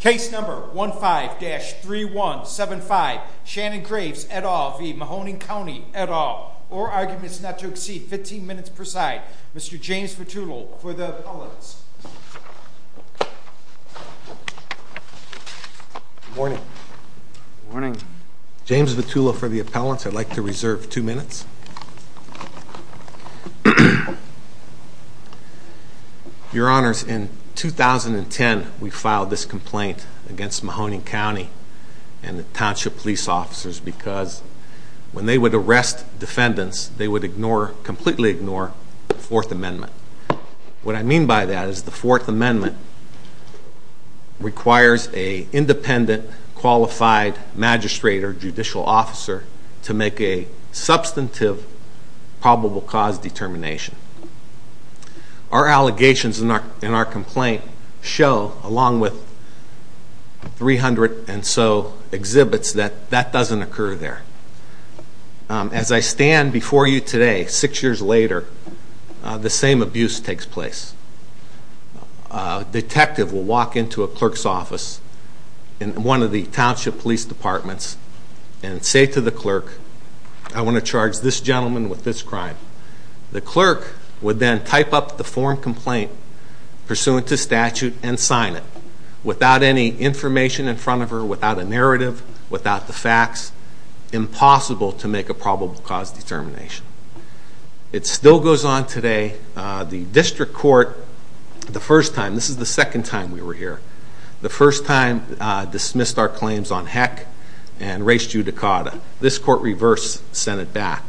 Case number 15-3175, Shannon Graves, et al. v. Mahoning County, et al. All arguments not to exceed 15 minutes per side. Mr. James Vitullo for the appellants. Good morning. Good morning. James Vitullo for the appellants. I'd like to reserve two minutes. Your Honors, in 2010 we filed this complaint against Mahoning County and the Township Police Officers because when they would arrest defendants, they would completely ignore the Fourth Amendment. What I mean by that is the Fourth Amendment requires an independent, qualified magistrate or judicial officer to make a substantive probable cause determination. Our allegations in our complaint show, along with 300 and so exhibits, that that doesn't occur there. As I stand before you today, six years later, the same abuse takes place. A detective will walk into a clerk's office in one of the Township Police Departments and say to the clerk, I want to charge this gentleman with this crime. The clerk would then type up the form complaint pursuant to statute and sign it. Without any information in front of her, without a narrative, without the facts, impossible to make a probable cause determination. It still goes on today. The District Court, the first time, this is the second time we were here, the first time dismissed our claims on heck and res judicata. This court reversed, sent it back.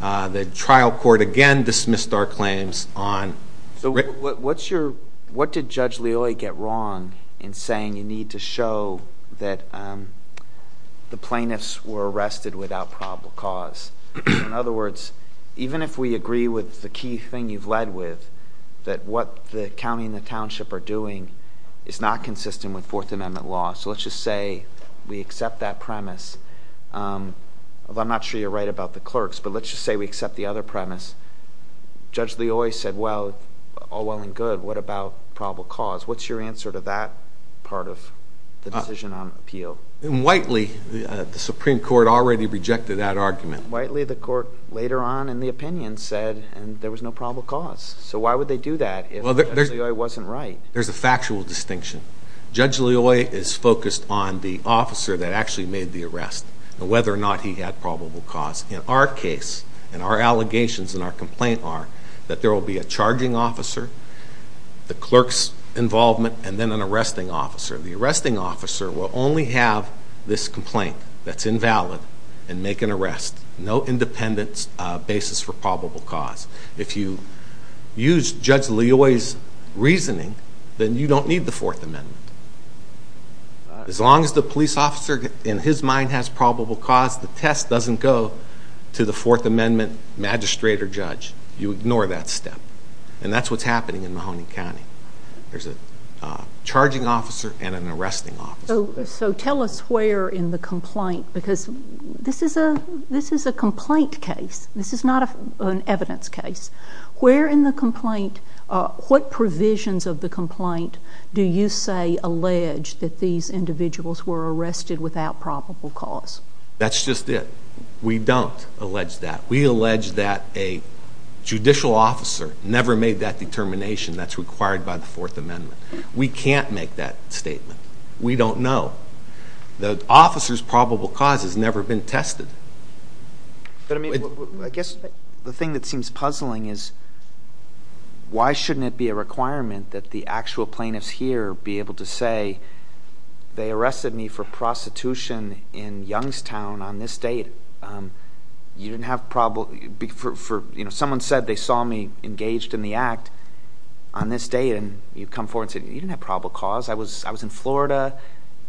The trial court again dismissed our claims. What did Judge Leoy get wrong in saying you need to show that the plaintiffs were arrested without probable cause? In other words, even if we agree with the key thing you've led with, that what the county and the township are doing is not consistent with Fourth Amendment law. So let's just say we accept that premise. I'm not sure you're right about the clerks, but let's just say we accept the other premise. Judge Leoy said, well, all well and good, what about probable cause? What's your answer to that part of the decision on appeal? In Whiteley, the Supreme Court already rejected that argument. In Whiteley, the court later on in the opinion said there was no probable cause. So why would they do that if Judge Leoy wasn't right? There's a factual distinction. Judge Leoy is focused on the officer that actually made the arrest and whether or not he had probable cause. In our case and our allegations and our complaint are that there will be a charging officer, the clerk's involvement, and then an arresting officer. The arresting officer will only have this complaint that's invalid and make an arrest. No independent basis for probable cause. If you use Judge Leoy's reasoning, then you don't need the Fourth Amendment. As long as the police officer in his mind has probable cause, the test doesn't go to the Fourth Amendment magistrate or judge. You ignore that step. And that's what's happening in Mahoney County. There's a charging officer and an arresting officer. So tell us where in the complaint, because this is a complaint case. This is not an evidence case. Where in the complaint, what provisions of the complaint do you say allege that these individuals were arrested without probable cause? That's just it. We don't allege that. We allege that a judicial officer never made that determination that's required by the Fourth Amendment. We can't make that statement. We don't know. The officer's probable cause has never been tested. But I mean, I guess the thing that seems puzzling is why shouldn't it be a requirement that the actual plaintiffs here be able to say, they arrested me for prostitution in Youngstown on this date. Someone said they saw me engaged in the act on this date, and you come forward and say, you didn't have probable cause. I was in Florida.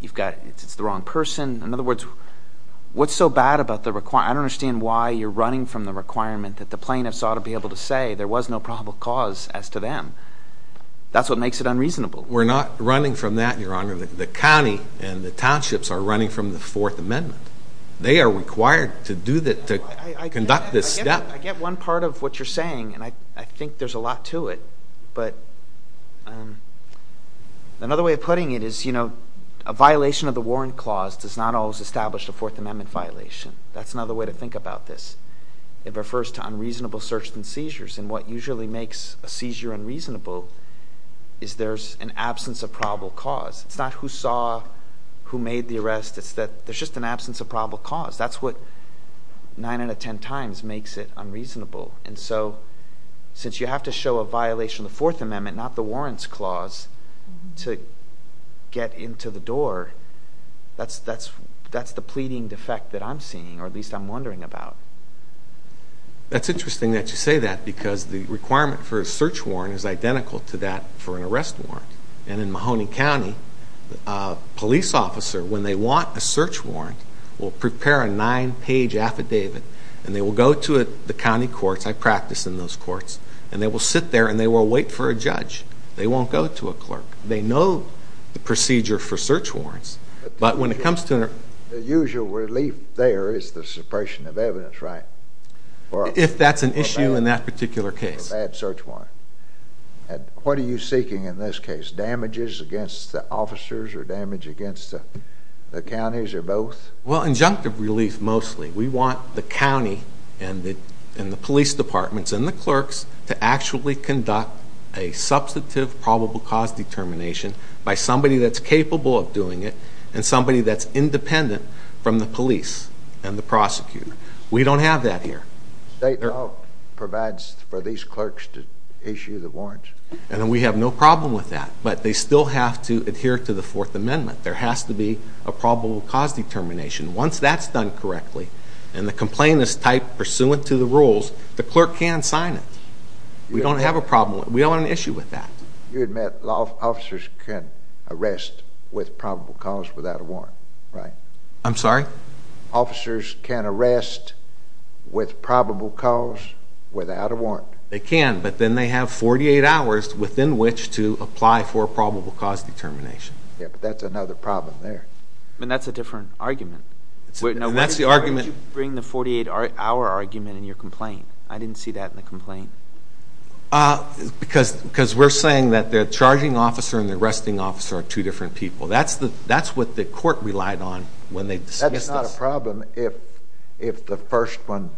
It's the wrong person. In other words, what's so bad about the requirement? I don't understand why you're running from the requirement that the plaintiffs ought to be able to say there was no probable cause as to them. That's what makes it unreasonable. We're not running from that, Your Honor. The county and the townships are running from the Fourth Amendment. They are required to conduct this step. I get one part of what you're saying, and I think there's a lot to it. But another way of putting it is, you know, a violation of the Warrant Clause does not always establish a Fourth Amendment violation. That's another way to think about this. It refers to unreasonable search and seizures. And what usually makes a seizure unreasonable is there's an absence of probable cause. It's not who saw, who made the arrest. It's that there's just an absence of probable cause. That's what 9 out of 10 times makes it unreasonable. And so since you have to show a violation of the Fourth Amendment, not the Warrants Clause, to get into the door, that's the pleading defect that I'm seeing, or at least I'm wondering about. That's interesting that you say that because the requirement for a search warrant is identical to that for an arrest warrant. And in Mahoney County, a police officer, when they want a search warrant, will prepare a nine-page affidavit, and they will go to the county courts. I practice in those courts. And they will sit there, and they will wait for a judge. They won't go to a clerk. They know the procedure for search warrants. But when it comes to an arrest warrant. The usual relief there is the suppression of evidence, right? If that's an issue in that particular case. Or a bad search warrant. What are you seeking in this case? Damages against the officers or damage against the counties or both? Well, injunctive relief mostly. We want the county and the police departments and the clerks to actually conduct a substantive probable cause determination by somebody that's capable of doing it and somebody that's independent from the police and the prosecutor. We don't have that here. State law provides for these clerks to issue the warrants. And we have no problem with that. But they still have to adhere to the Fourth Amendment. There has to be a probable cause determination. Once that's done correctly, and the complaint is typed pursuant to the rules, the clerk can sign it. We don't have a problem. We don't have an issue with that. You admit officers can arrest with probable cause without a warrant, right? I'm sorry? Officers can arrest with probable cause without a warrant. They can, but then they have 48 hours within which to apply for a probable cause determination. Yeah, but that's another problem there. But that's a different argument. That's the argument. Why did you bring the 48-hour argument in your complaint? I didn't see that in the complaint. Because we're saying that the charging officer and the arresting officer are two different people. That's what the court relied on when they dismissed us. That's not a problem if the first one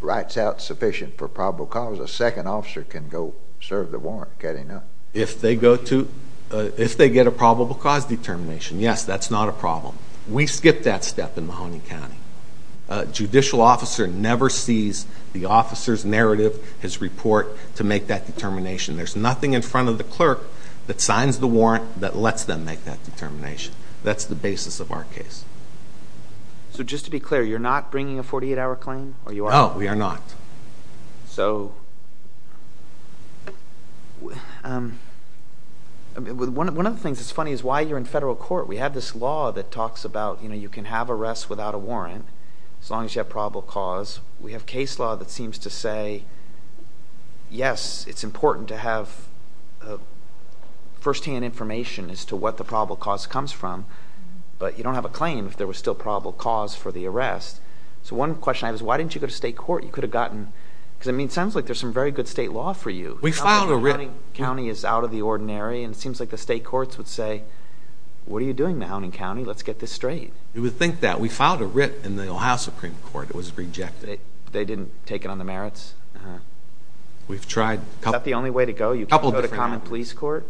writes out sufficient for probable cause. A second officer can go serve the warrant, can't he not? If they get a probable cause determination, yes, that's not a problem. We skip that step in Mahoney County. A judicial officer never sees the officer's narrative, his report, to make that determination. There's nothing in front of the clerk that signs the warrant that lets them make that determination. That's the basis of our case. So just to be clear, you're not bringing a 48-hour claim, or you are? No, we are not. One of the things that's funny is why you're in federal court. We have this law that talks about you can have arrests without a warrant as long as you have probable cause. We have case law that seems to say, yes, it's important to have firsthand information as to what the probable cause comes from. But you don't have a claim if there was still probable cause for the arrest. So one question I have is why didn't you go to state court? It sounds like there's some very good state law for you. Mahoney County is out of the ordinary, and it seems like the state courts would say, what are you doing, Mahoney County? Let's get this straight. You would think that. We filed a writ in the Ohio Supreme Court. It was rejected. They didn't take it on the merits? We've tried. Is that the only way to go? You can't go to common police court?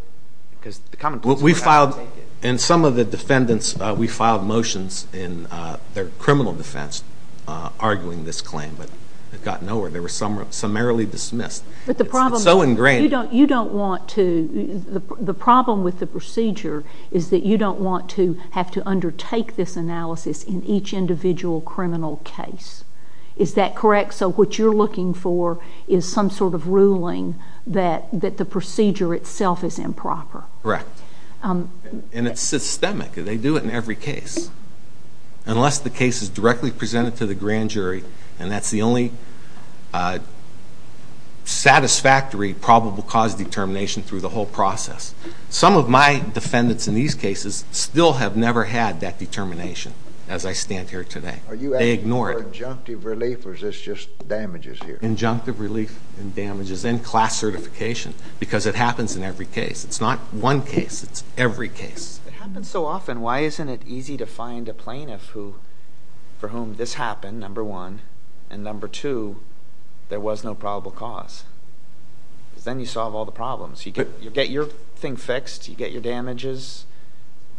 We filed, and some of the defendants, we filed motions in their criminal defense arguing this claim. But it got nowhere. They were summarily dismissed. It's so ingrained. The problem with the procedure is that you don't want to have to undertake this analysis in each individual criminal case. Is that correct? So what you're looking for is some sort of ruling that the procedure itself is improper. Correct. And it's systemic. They do it in every case. Unless the case is directly presented to the grand jury, and that's the only satisfactory probable cause determination through the whole process. Some of my defendants in these cases still have never had that determination as I stand here today. Are you asking for injunctive relief, or is this just damages here? Injunctive relief and damages and class certification because it happens in every case. It's not one case. It's every case. It happens so often. Why isn't it easy to find a plaintiff for whom this happened, number one, and number two, there was no probable cause? Because then you solve all the problems. You get your thing fixed. You get your damages.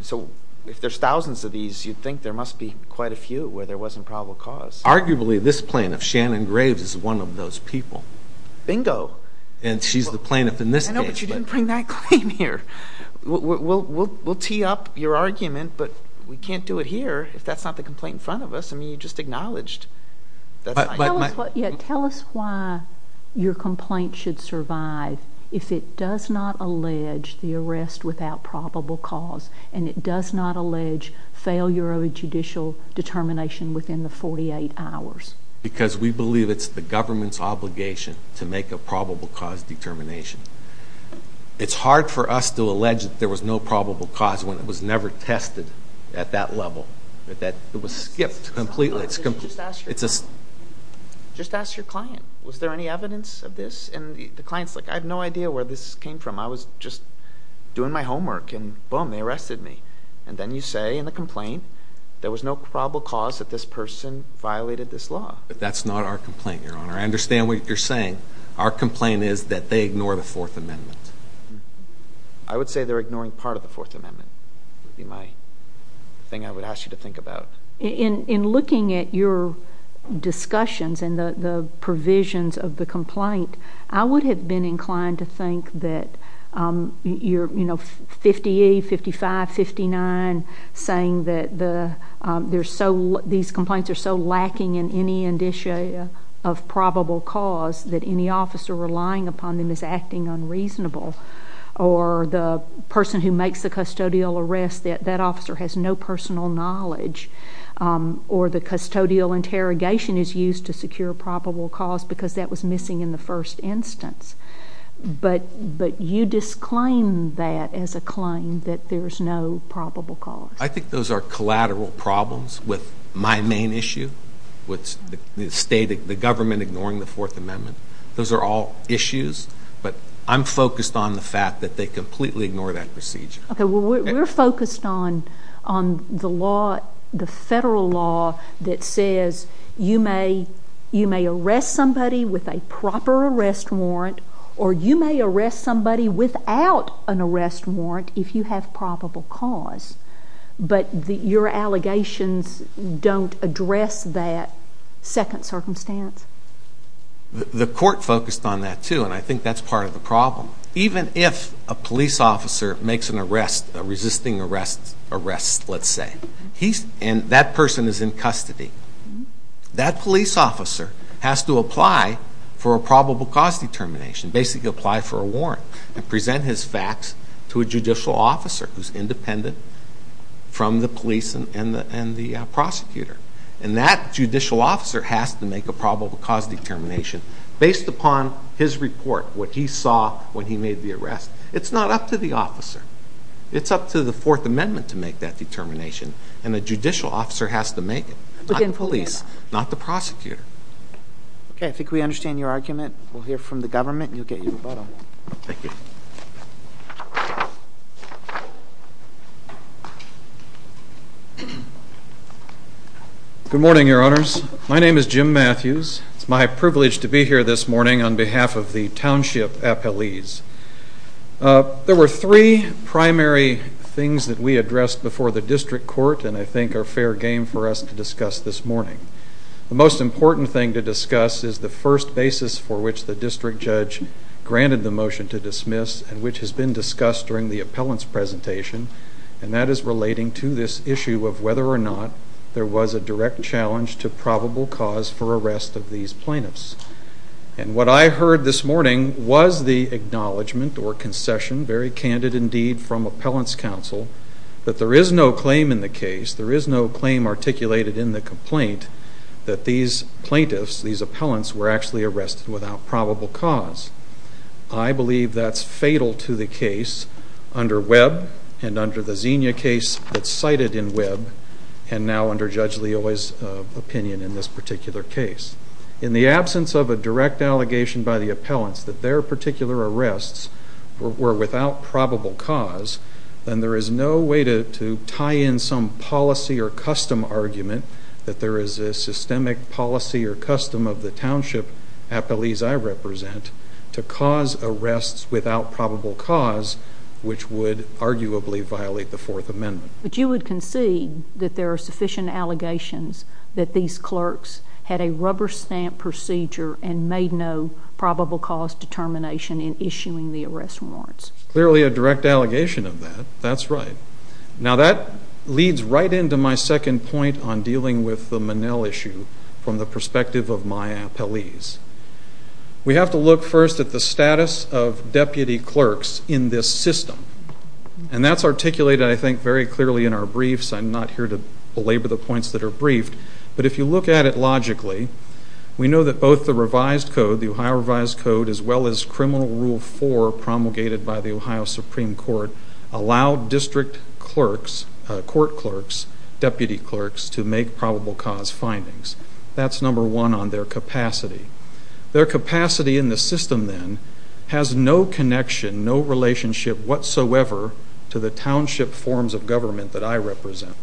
So if there's thousands of these, you'd think there must be quite a few where there wasn't probable cause. Arguably, this plaintiff, Shannon Graves, is one of those people. Bingo. And she's the plaintiff in this case. I know, but you didn't bring that claim here. We'll tee up your argument, but we can't do it here if that's not the complaint in front of us. I mean, you just acknowledged. Tell us why your complaint should survive if it does not allege the arrest without probable cause and it does not allege failure of a judicial determination within the 48 hours. Because we believe it's the government's obligation to make a probable cause determination. It's hard for us to allege that there was no probable cause when it was never tested at that level, that it was skipped completely. Just ask your client. Was there any evidence of this? And the client's like, I have no idea where this came from. I was just doing my homework, and boom, they arrested me. And then you say in the complaint there was no probable cause that this person violated this law. But that's not our complaint, Your Honor. I understand what you're saying. Our complaint is that they ignore the Fourth Amendment. I would say they're ignoring part of the Fourth Amendment. That would be my thing I would ask you to think about. In looking at your discussions and the provisions of the complaint, I would have been inclined to think that you're 58, 55, 59, saying that these complaints are so lacking in any indicia of probable cause that any officer relying upon them is acting unreasonable, or the person who makes the custodial arrest, that that officer has no personal knowledge, or the custodial interrogation is used to secure probable cause because that was missing in the first instance. But you disclaim that as a claim, that there's no probable cause. I think those are collateral problems with my main issue, which is the government ignoring the Fourth Amendment. Those are all issues, but I'm focused on the fact that they completely ignore that procedure. Okay, well, we're focused on the law, the federal law, that says you may arrest somebody with a proper arrest warrant, or you may arrest somebody without an arrest warrant if you have probable cause, but your allegations don't address that second circumstance. The court focused on that, too, and I think that's part of the problem. Even if a police officer makes an arrest, a resisting arrest, let's say, and that person is in custody, that police officer has to apply for a probable cause determination, basically apply for a warrant and present his facts to a judicial officer who's independent from the police and the prosecutor. And that judicial officer has to make a probable cause determination based upon his report, what he saw when he made the arrest. It's not up to the officer. It's up to the Fourth Amendment to make that determination, and a judicial officer has to make it, not the police, not the prosecutor. Okay, I think we understand your argument. We'll hear from the government, and you'll get your rebuttal. Thank you. Good morning, Your Honors. My name is Jim Matthews. It's my privilege to be here this morning on behalf of the Township Appellees. There were three primary things that we addressed before the district court and I think are fair game for us to discuss this morning. The most important thing to discuss is the first basis for which the district judge granted the motion to dismiss and which has been discussed during the appellant's presentation, and that is relating to this issue of whether or not there was a direct challenge to probable cause for arrest of these plaintiffs. And what I heard this morning was the acknowledgment or concession, very candid indeed from appellant's counsel, that there is no claim in the case, there is no claim articulated in the complaint, that these plaintiffs, these appellants, were actually arrested without probable cause. I believe that's fatal to the case under Webb and under the Xenia case that's cited in Webb and now under Judge Leoy's opinion in this particular case. In the absence of a direct allegation by the appellants that their particular arrests were without probable cause, then there is no way to tie in some policy or custom argument that there is a systemic policy or custom of the Township Appellees I represent to cause arrests without probable cause, which would arguably violate the Fourth Amendment. But you would concede that there are sufficient allegations that these clerks had a rubber stamp procedure and made no probable cause determination in issuing the arrest warrants. Clearly a direct allegation of that. That's right. Now that leads right into my second point on dealing with the Monell issue from the perspective of my appellees. We have to look first at the status of deputy clerks in this system. And that's articulated, I think, very clearly in our briefs. I'm not here to belabor the points that are briefed. But if you look at it logically, we know that both the revised code, the Ohio revised code, as well as Criminal Rule 4 promulgated by the Ohio Supreme Court, allow district clerks, court clerks, deputy clerks to make probable cause findings. That's number one on their capacity. Their capacity in the system then has no connection, no relationship whatsoever to the township forms of government that I represent.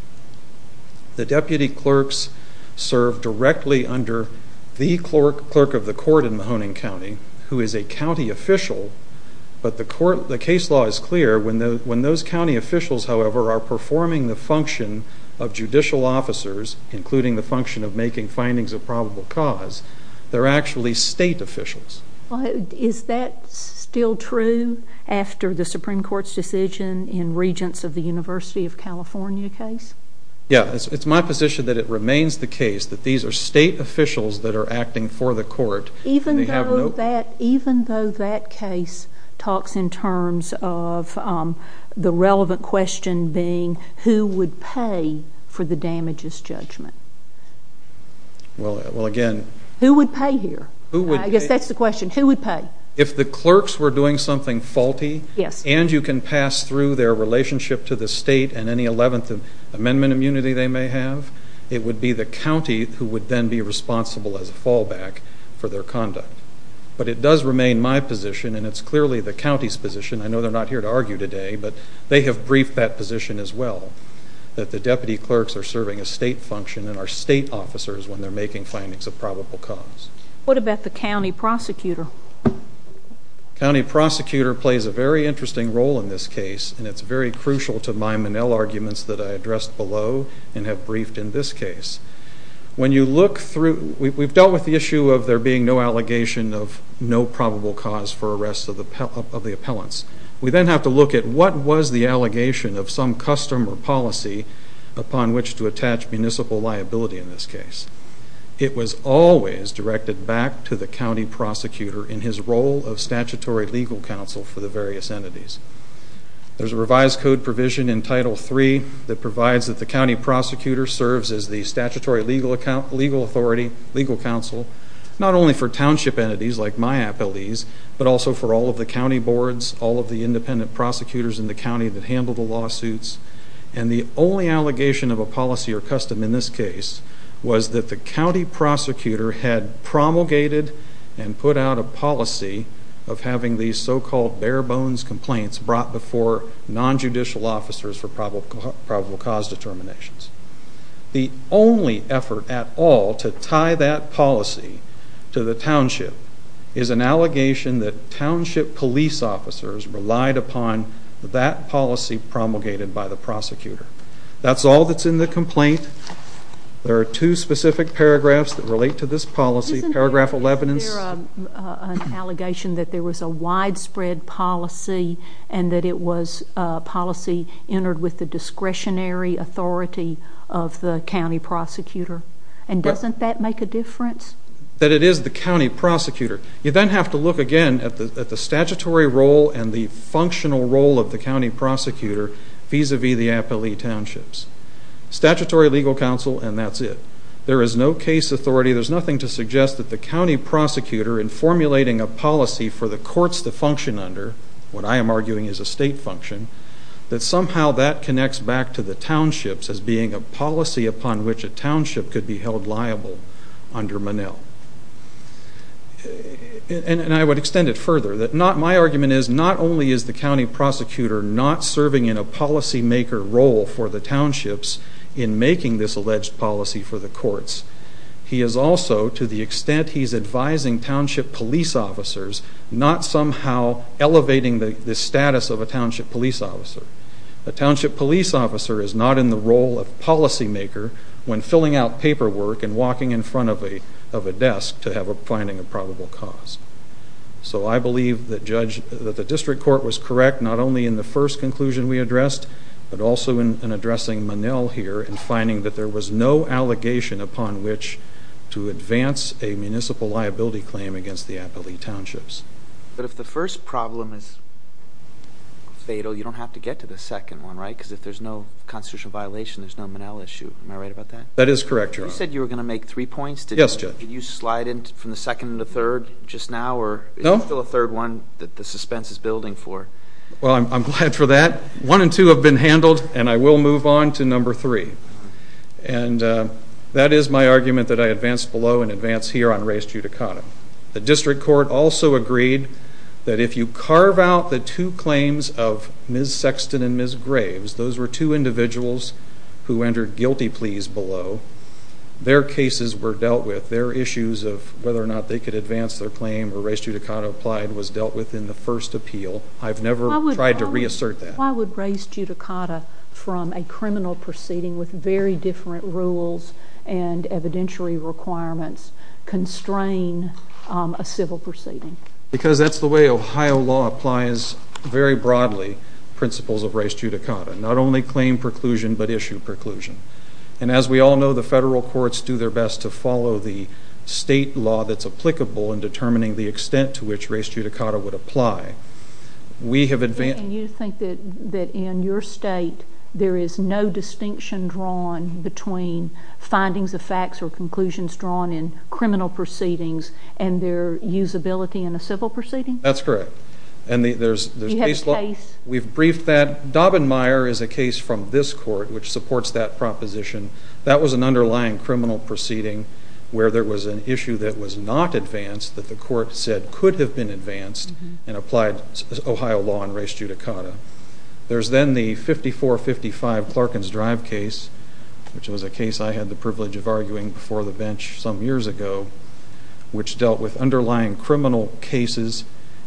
The deputy clerks serve directly under the clerk of the court in Mahoning County, who is a county official. But the case law is clear. When those county officials, however, are performing the function of judicial officers, including the function of making findings of probable cause, they're actually state officials. Well, is that still true after the Supreme Court's decision in Regents of the University of California case? Yeah. It's my position that it remains the case that these are state officials that are acting for the court. Even though that case talks in terms of the relevant question being who would pay for the damages judgment? Well, again... Who would pay here? I guess that's the question. Who would pay? If the clerks were doing something faulty, and you can pass through their relationship to the state and any 11th Amendment immunity they may have, it would be the county who would then be responsible as a fallback for their conduct. But it does remain my position, and it's clearly the county's position, I know they're not here to argue today, but they have briefed that position as well, that the deputy clerks are serving a state function and are state officers when they're making findings of probable cause. What about the county prosecutor? The county prosecutor plays a very interesting role in this case, and it's very crucial to my Monell arguments that I addressed below and have briefed in this case. When you look through... We've dealt with the issue of there being no allegation of no probable cause for arrest of the appellants. We then have to look at what was the allegation of some custom or policy upon which to attach municipal liability in this case. It was always directed back to the county prosecutor in his role of statutory legal counsel for the various entities. There's a revised code provision in Title III that provides that the county prosecutor serves as the statutory legal authority, legal counsel, not only for township entities like my appellees, but also for all of the county boards, all of the independent prosecutors in the county that handle the lawsuits, and the only allegation of a policy or custom in this case was that the county prosecutor had promulgated and put out a policy of having these so-called bare-bones complaints brought before nonjudicial officers for probable cause determinations. The only effort at all to tie that policy to the township is an allegation that township police officers relied upon that policy promulgated by the prosecutor. That's all that's in the complaint. There are two specific paragraphs that relate to this policy. Isn't there an allegation that there was a widespread policy and that it was a policy entered with the discretionary authority of the county prosecutor, and doesn't that make a difference? That it is the county prosecutor. You then have to look again at the statutory role and the functional role of the county prosecutor vis-à-vis the appellee townships. Statutory legal counsel, and that's it. There is no case authority. There's nothing to suggest that the county prosecutor, in formulating a policy for the courts to function under, what I am arguing is a state function, that somehow that connects back to the townships being a policy upon which a township could be held liable under Monell. And I would extend it further. My argument is not only is the county prosecutor not serving in a policymaker role for the townships in making this alleged policy for the courts, he is also, to the extent he is advising township police officers, not somehow elevating the status of a township police officer. A township police officer is not in the role of policymaker when filling out paperwork and walking in front of a desk to have a finding of probable cause. So I believe that the district court was correct not only in the first conclusion we addressed, but also in addressing Monell here in finding that there was no allegation upon which to advance a municipal liability claim against the appellee townships. But if the first problem is fatal, you don't have to get to the second one, right? Because if there's no constitutional violation, there's no Monell issue. Am I right about that? That is correct, Your Honor. You said you were going to make three points. Yes, Judge. Did you slide in from the second and the third just now? No. Or is there still a third one that the suspense is building for? Well, I'm glad for that. One and two have been handled, and I will move on to number three. And that is my argument that I advance below and advance here on res judicata. The district court also agreed that if you carve out the two claims of Ms. Sexton and Ms. Graves, those were two individuals who entered guilty pleas below, their cases were dealt with. Their issues of whether or not they could advance their claim or res judicata applied was dealt with in the first appeal. I've never tried to reassert that. Why would res judicata from a criminal proceeding with very different rules and evidentiary requirements constrain a civil proceeding? Because that's the way Ohio law applies very broadly principles of res judicata, not only claim preclusion but issue preclusion. And as we all know, the federal courts do their best to follow the state law that's applicable in determining the extent to which res judicata would apply. And you think that in your state there is no distinction drawn between findings of facts or conclusions drawn in criminal proceedings and their usability in a civil proceeding? That's correct. Do you have a case? We've briefed that. Dobben-Meyer is a case from this court which supports that proposition. That was an underlying criminal proceeding where there was an issue that was not advanced that the court said could have been advanced and applied Ohio law and res judicata. There's then the 5455 Clarkins Drive case, which was a case I had the privilege of arguing before the bench some years ago, which dealt with underlying criminal cases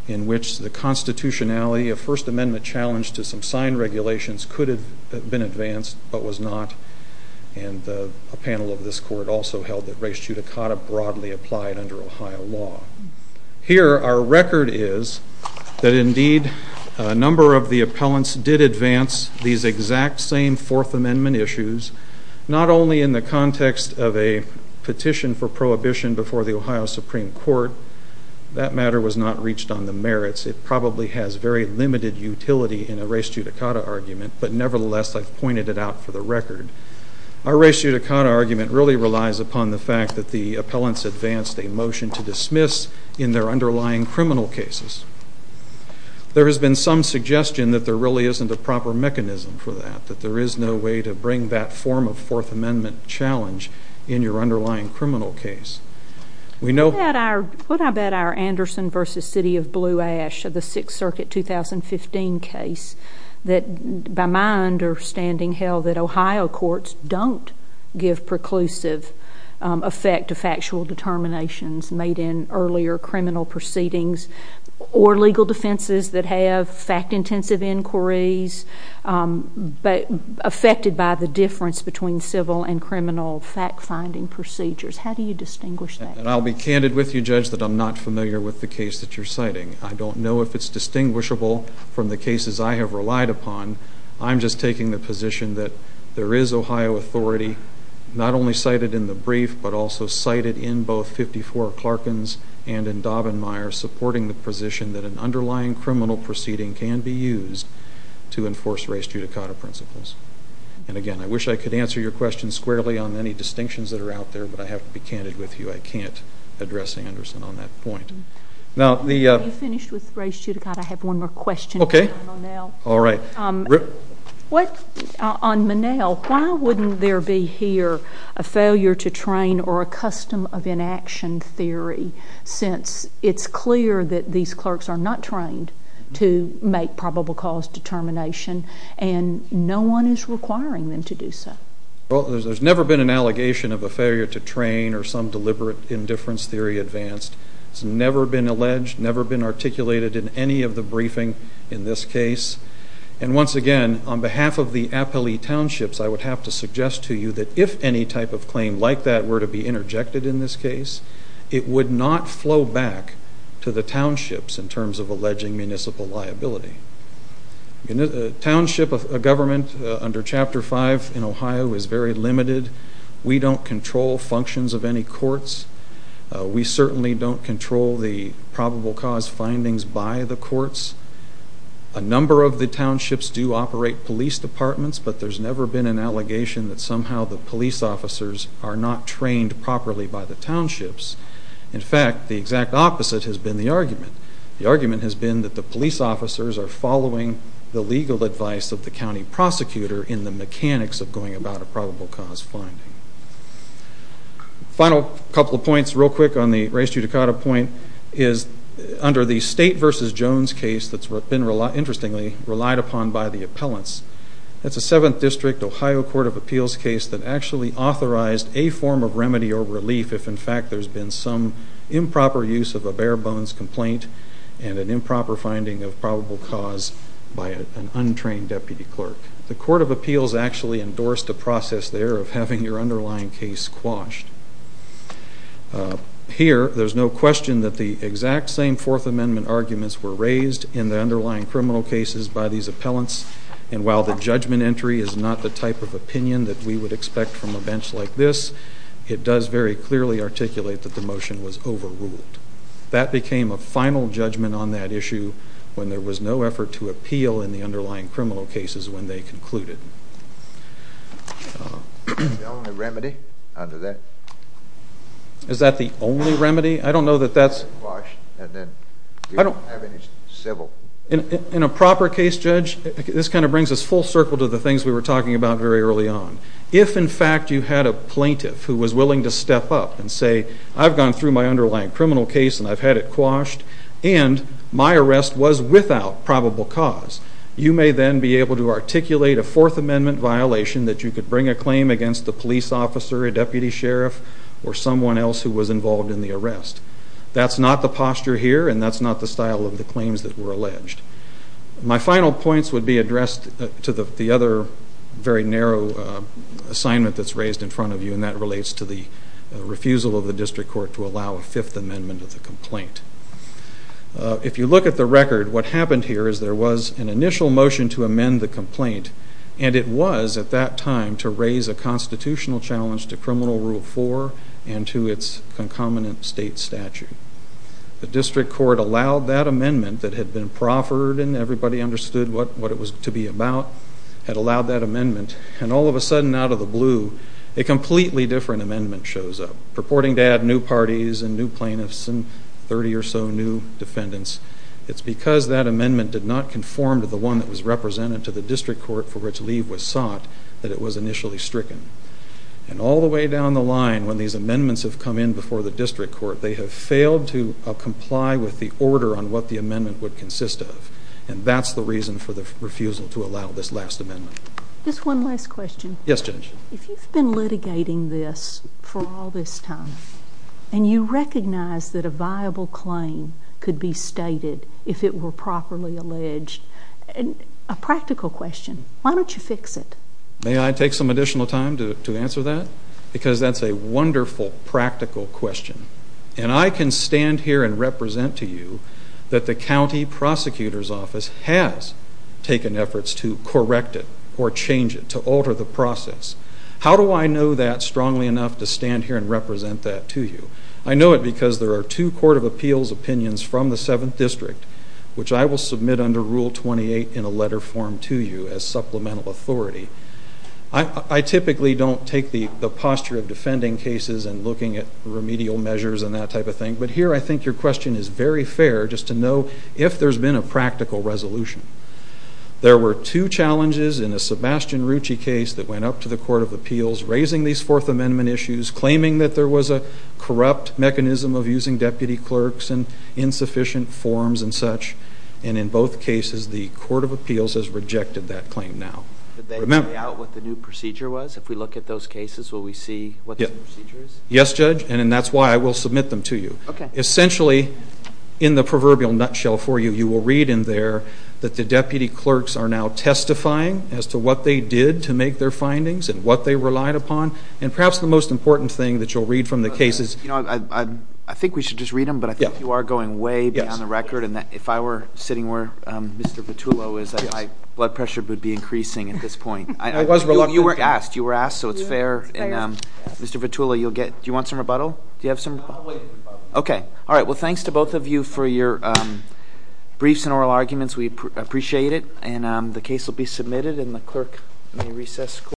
in which the constitutionality of First Amendment challenge to some signed regulations could have been advanced but was not. And a panel of this court also held that res judicata broadly applied under Ohio law. Here our record is that indeed a number of the appellants did advance these exact same Fourth Amendment issues, not only in the context of a petition for prohibition before the Ohio Supreme Court. That matter was not reached on the merits. It probably has very limited utility in a res judicata argument, but nevertheless I've pointed it out for the record. Our res judicata argument really relies upon the fact that the appellants advanced a motion to dismiss in their underlying criminal cases. There has been some suggestion that there really isn't a proper mechanism for that, that there is no way to bring that form of Fourth Amendment challenge in your underlying criminal case. What about our Anderson v. City of Blue Ash of the Sixth Circuit 2015 case that, by my understanding, held that Ohio courts don't give preclusive effect to factual determinations made in earlier criminal proceedings or legal defenses that have fact-intensive inquiries affected by the difference between civil and criminal fact-finding procedures? How do you distinguish that? And I'll be candid with you, Judge, that I'm not familiar with the case that you're citing. I don't know if it's distinguishable from the cases I have relied upon. I'm just taking the position that there is Ohio authority, not only cited in the brief but also cited in both 54 Clarkins and in Daubenmire, supporting the position that an underlying criminal proceeding can be used to enforce res judicata principles. And again, I wish I could answer your question squarely on any distinctions that are out there, but I have to be candid with you. I can't address Anderson on that point. You finished with res judicata. I have one more question. Okay. All right. On Monell, why wouldn't there be here a failure to train or a custom of inaction theory since it's clear that these clerks are not trained to make probable cause determination and no one is requiring them to do so? Well, there's never been an allegation of a failure to train or some deliberate indifference theory advanced. It's never been alleged, never been articulated in any of the briefing in this case. And once again, on behalf of the appellee townships, I would have to suggest to you that if any type of claim like that were to be interjected in this case, it would not flow back to the townships in terms of alleging municipal liability. Township government under Chapter 5 in Ohio is very limited. We don't control functions of any courts. We certainly don't control the probable cause findings by the courts. A number of the townships do operate police departments, but there's never been an allegation that somehow the police officers are not trained properly by the townships. In fact, the exact opposite has been the argument. The argument has been that the police officers are following the legal advice of the county prosecutor in the mechanics of going about a probable cause finding. Final couple of points. Real quick on the Ray Estrada point is under the State v. Jones case that's been, interestingly, relied upon by the appellants. That's a 7th District Ohio Court of Appeals case that actually authorized a form of remedy or relief if, in fact, there's been some improper use of a bare bones complaint and an improper finding of probable cause by an untrained deputy clerk. The Court of Appeals actually endorsed the process there of having your underlying case quashed. Here, there's no question that the exact same Fourth Amendment arguments were raised in the underlying criminal cases by these appellants, and while the judgment entry is not the type of opinion that we would expect from a bench like this, it does very clearly articulate that the motion was overruled. That became a final judgment on that issue when there was no effort to appeal in the underlying criminal cases when they concluded. Is that the only remedy under that? Is that the only remedy? I don't know that that's... Quashed, and then we don't have any civil... In a proper case, Judge, this kind of brings us full circle to the things we were talking about very early on. If, in fact, you had a plaintiff who was willing to step up and say, I've gone through my underlying criminal case, and I've had it quashed, and my arrest was without probable cause, you may then be able to articulate a Fourth Amendment violation that you could bring a claim against the police officer, a deputy sheriff, or someone else who was involved in the arrest. That's not the posture here, and that's not the style of the claims that were alleged. My final points would be addressed to the other very narrow assignment that's raised in front of you, and that relates to the refusal of the district court to allow a Fifth Amendment of the complaint. If you look at the record, what happened here is there was an initial motion to amend the complaint, and it was, at that time, to raise a constitutional challenge to Criminal Rule 4 and to its concomitant state statute. The district court allowed that amendment that had been proffered, and everybody understood what it was to be about, had allowed that amendment, and all of a sudden, out of the blue, a completely different amendment shows up purporting to add new parties and new plaintiffs and 30 or so new defendants. It's because that amendment did not conform to the one that was represented to the district court for which Lee was sought that it was initially stricken. And all the way down the line, when these amendments have come in before the district court, they have failed to comply with the order on what the amendment would consist of, and that's the reason for the refusal to allow this last amendment. Just one last question. Yes, Judge. If you've been litigating this for all this time, and you recognize that a viable claim could be stated if it were properly alleged, a practical question, why don't you fix it? May I take some additional time to answer that? Because that's a wonderful, practical question, and I can stand here and represent to you that the county prosecutor's office has taken efforts to correct it or change it, to alter the process. How do I know that strongly enough to stand here and represent that to you? I know it because there are two Court of Appeals opinions from the 7th District, which I will submit under Rule 28 in a letter form to you as supplemental authority. I typically don't take the posture of defending cases and looking at remedial measures and that type of thing, but here I think your question is very fair just to know if there's been a practical resolution. There were two challenges in a Sebastian Rucci case that went up to the Court of Appeals, raising these Fourth Amendment issues, claiming that there was a corrupt mechanism of using deputy clerks and insufficient forms and such, and in both cases the Court of Appeals has rejected that claim now. Did they lay out what the new procedure was? If we look at those cases, will we see what the procedure is? Yes, Judge, and that's why I will submit them to you. Essentially, in the proverbial nutshell for you, you will read in there that the deputy clerks are now testifying as to what they did to make their findings and what they relied upon, and perhaps the most important thing that you'll read from the case is— I think we should just read them, but I think you are going way beyond the record, and if I were sitting where Mr. Vitullo is, my blood pressure would be increasing at this point. You were asked, so it's fair. Mr. Vitullo, do you want some rebuttal? I'll wait for the rebuttal. Okay. All right, well, thanks to both of you for your briefs and oral arguments. We appreciate it, and the case will be submitted, and the clerk may recess.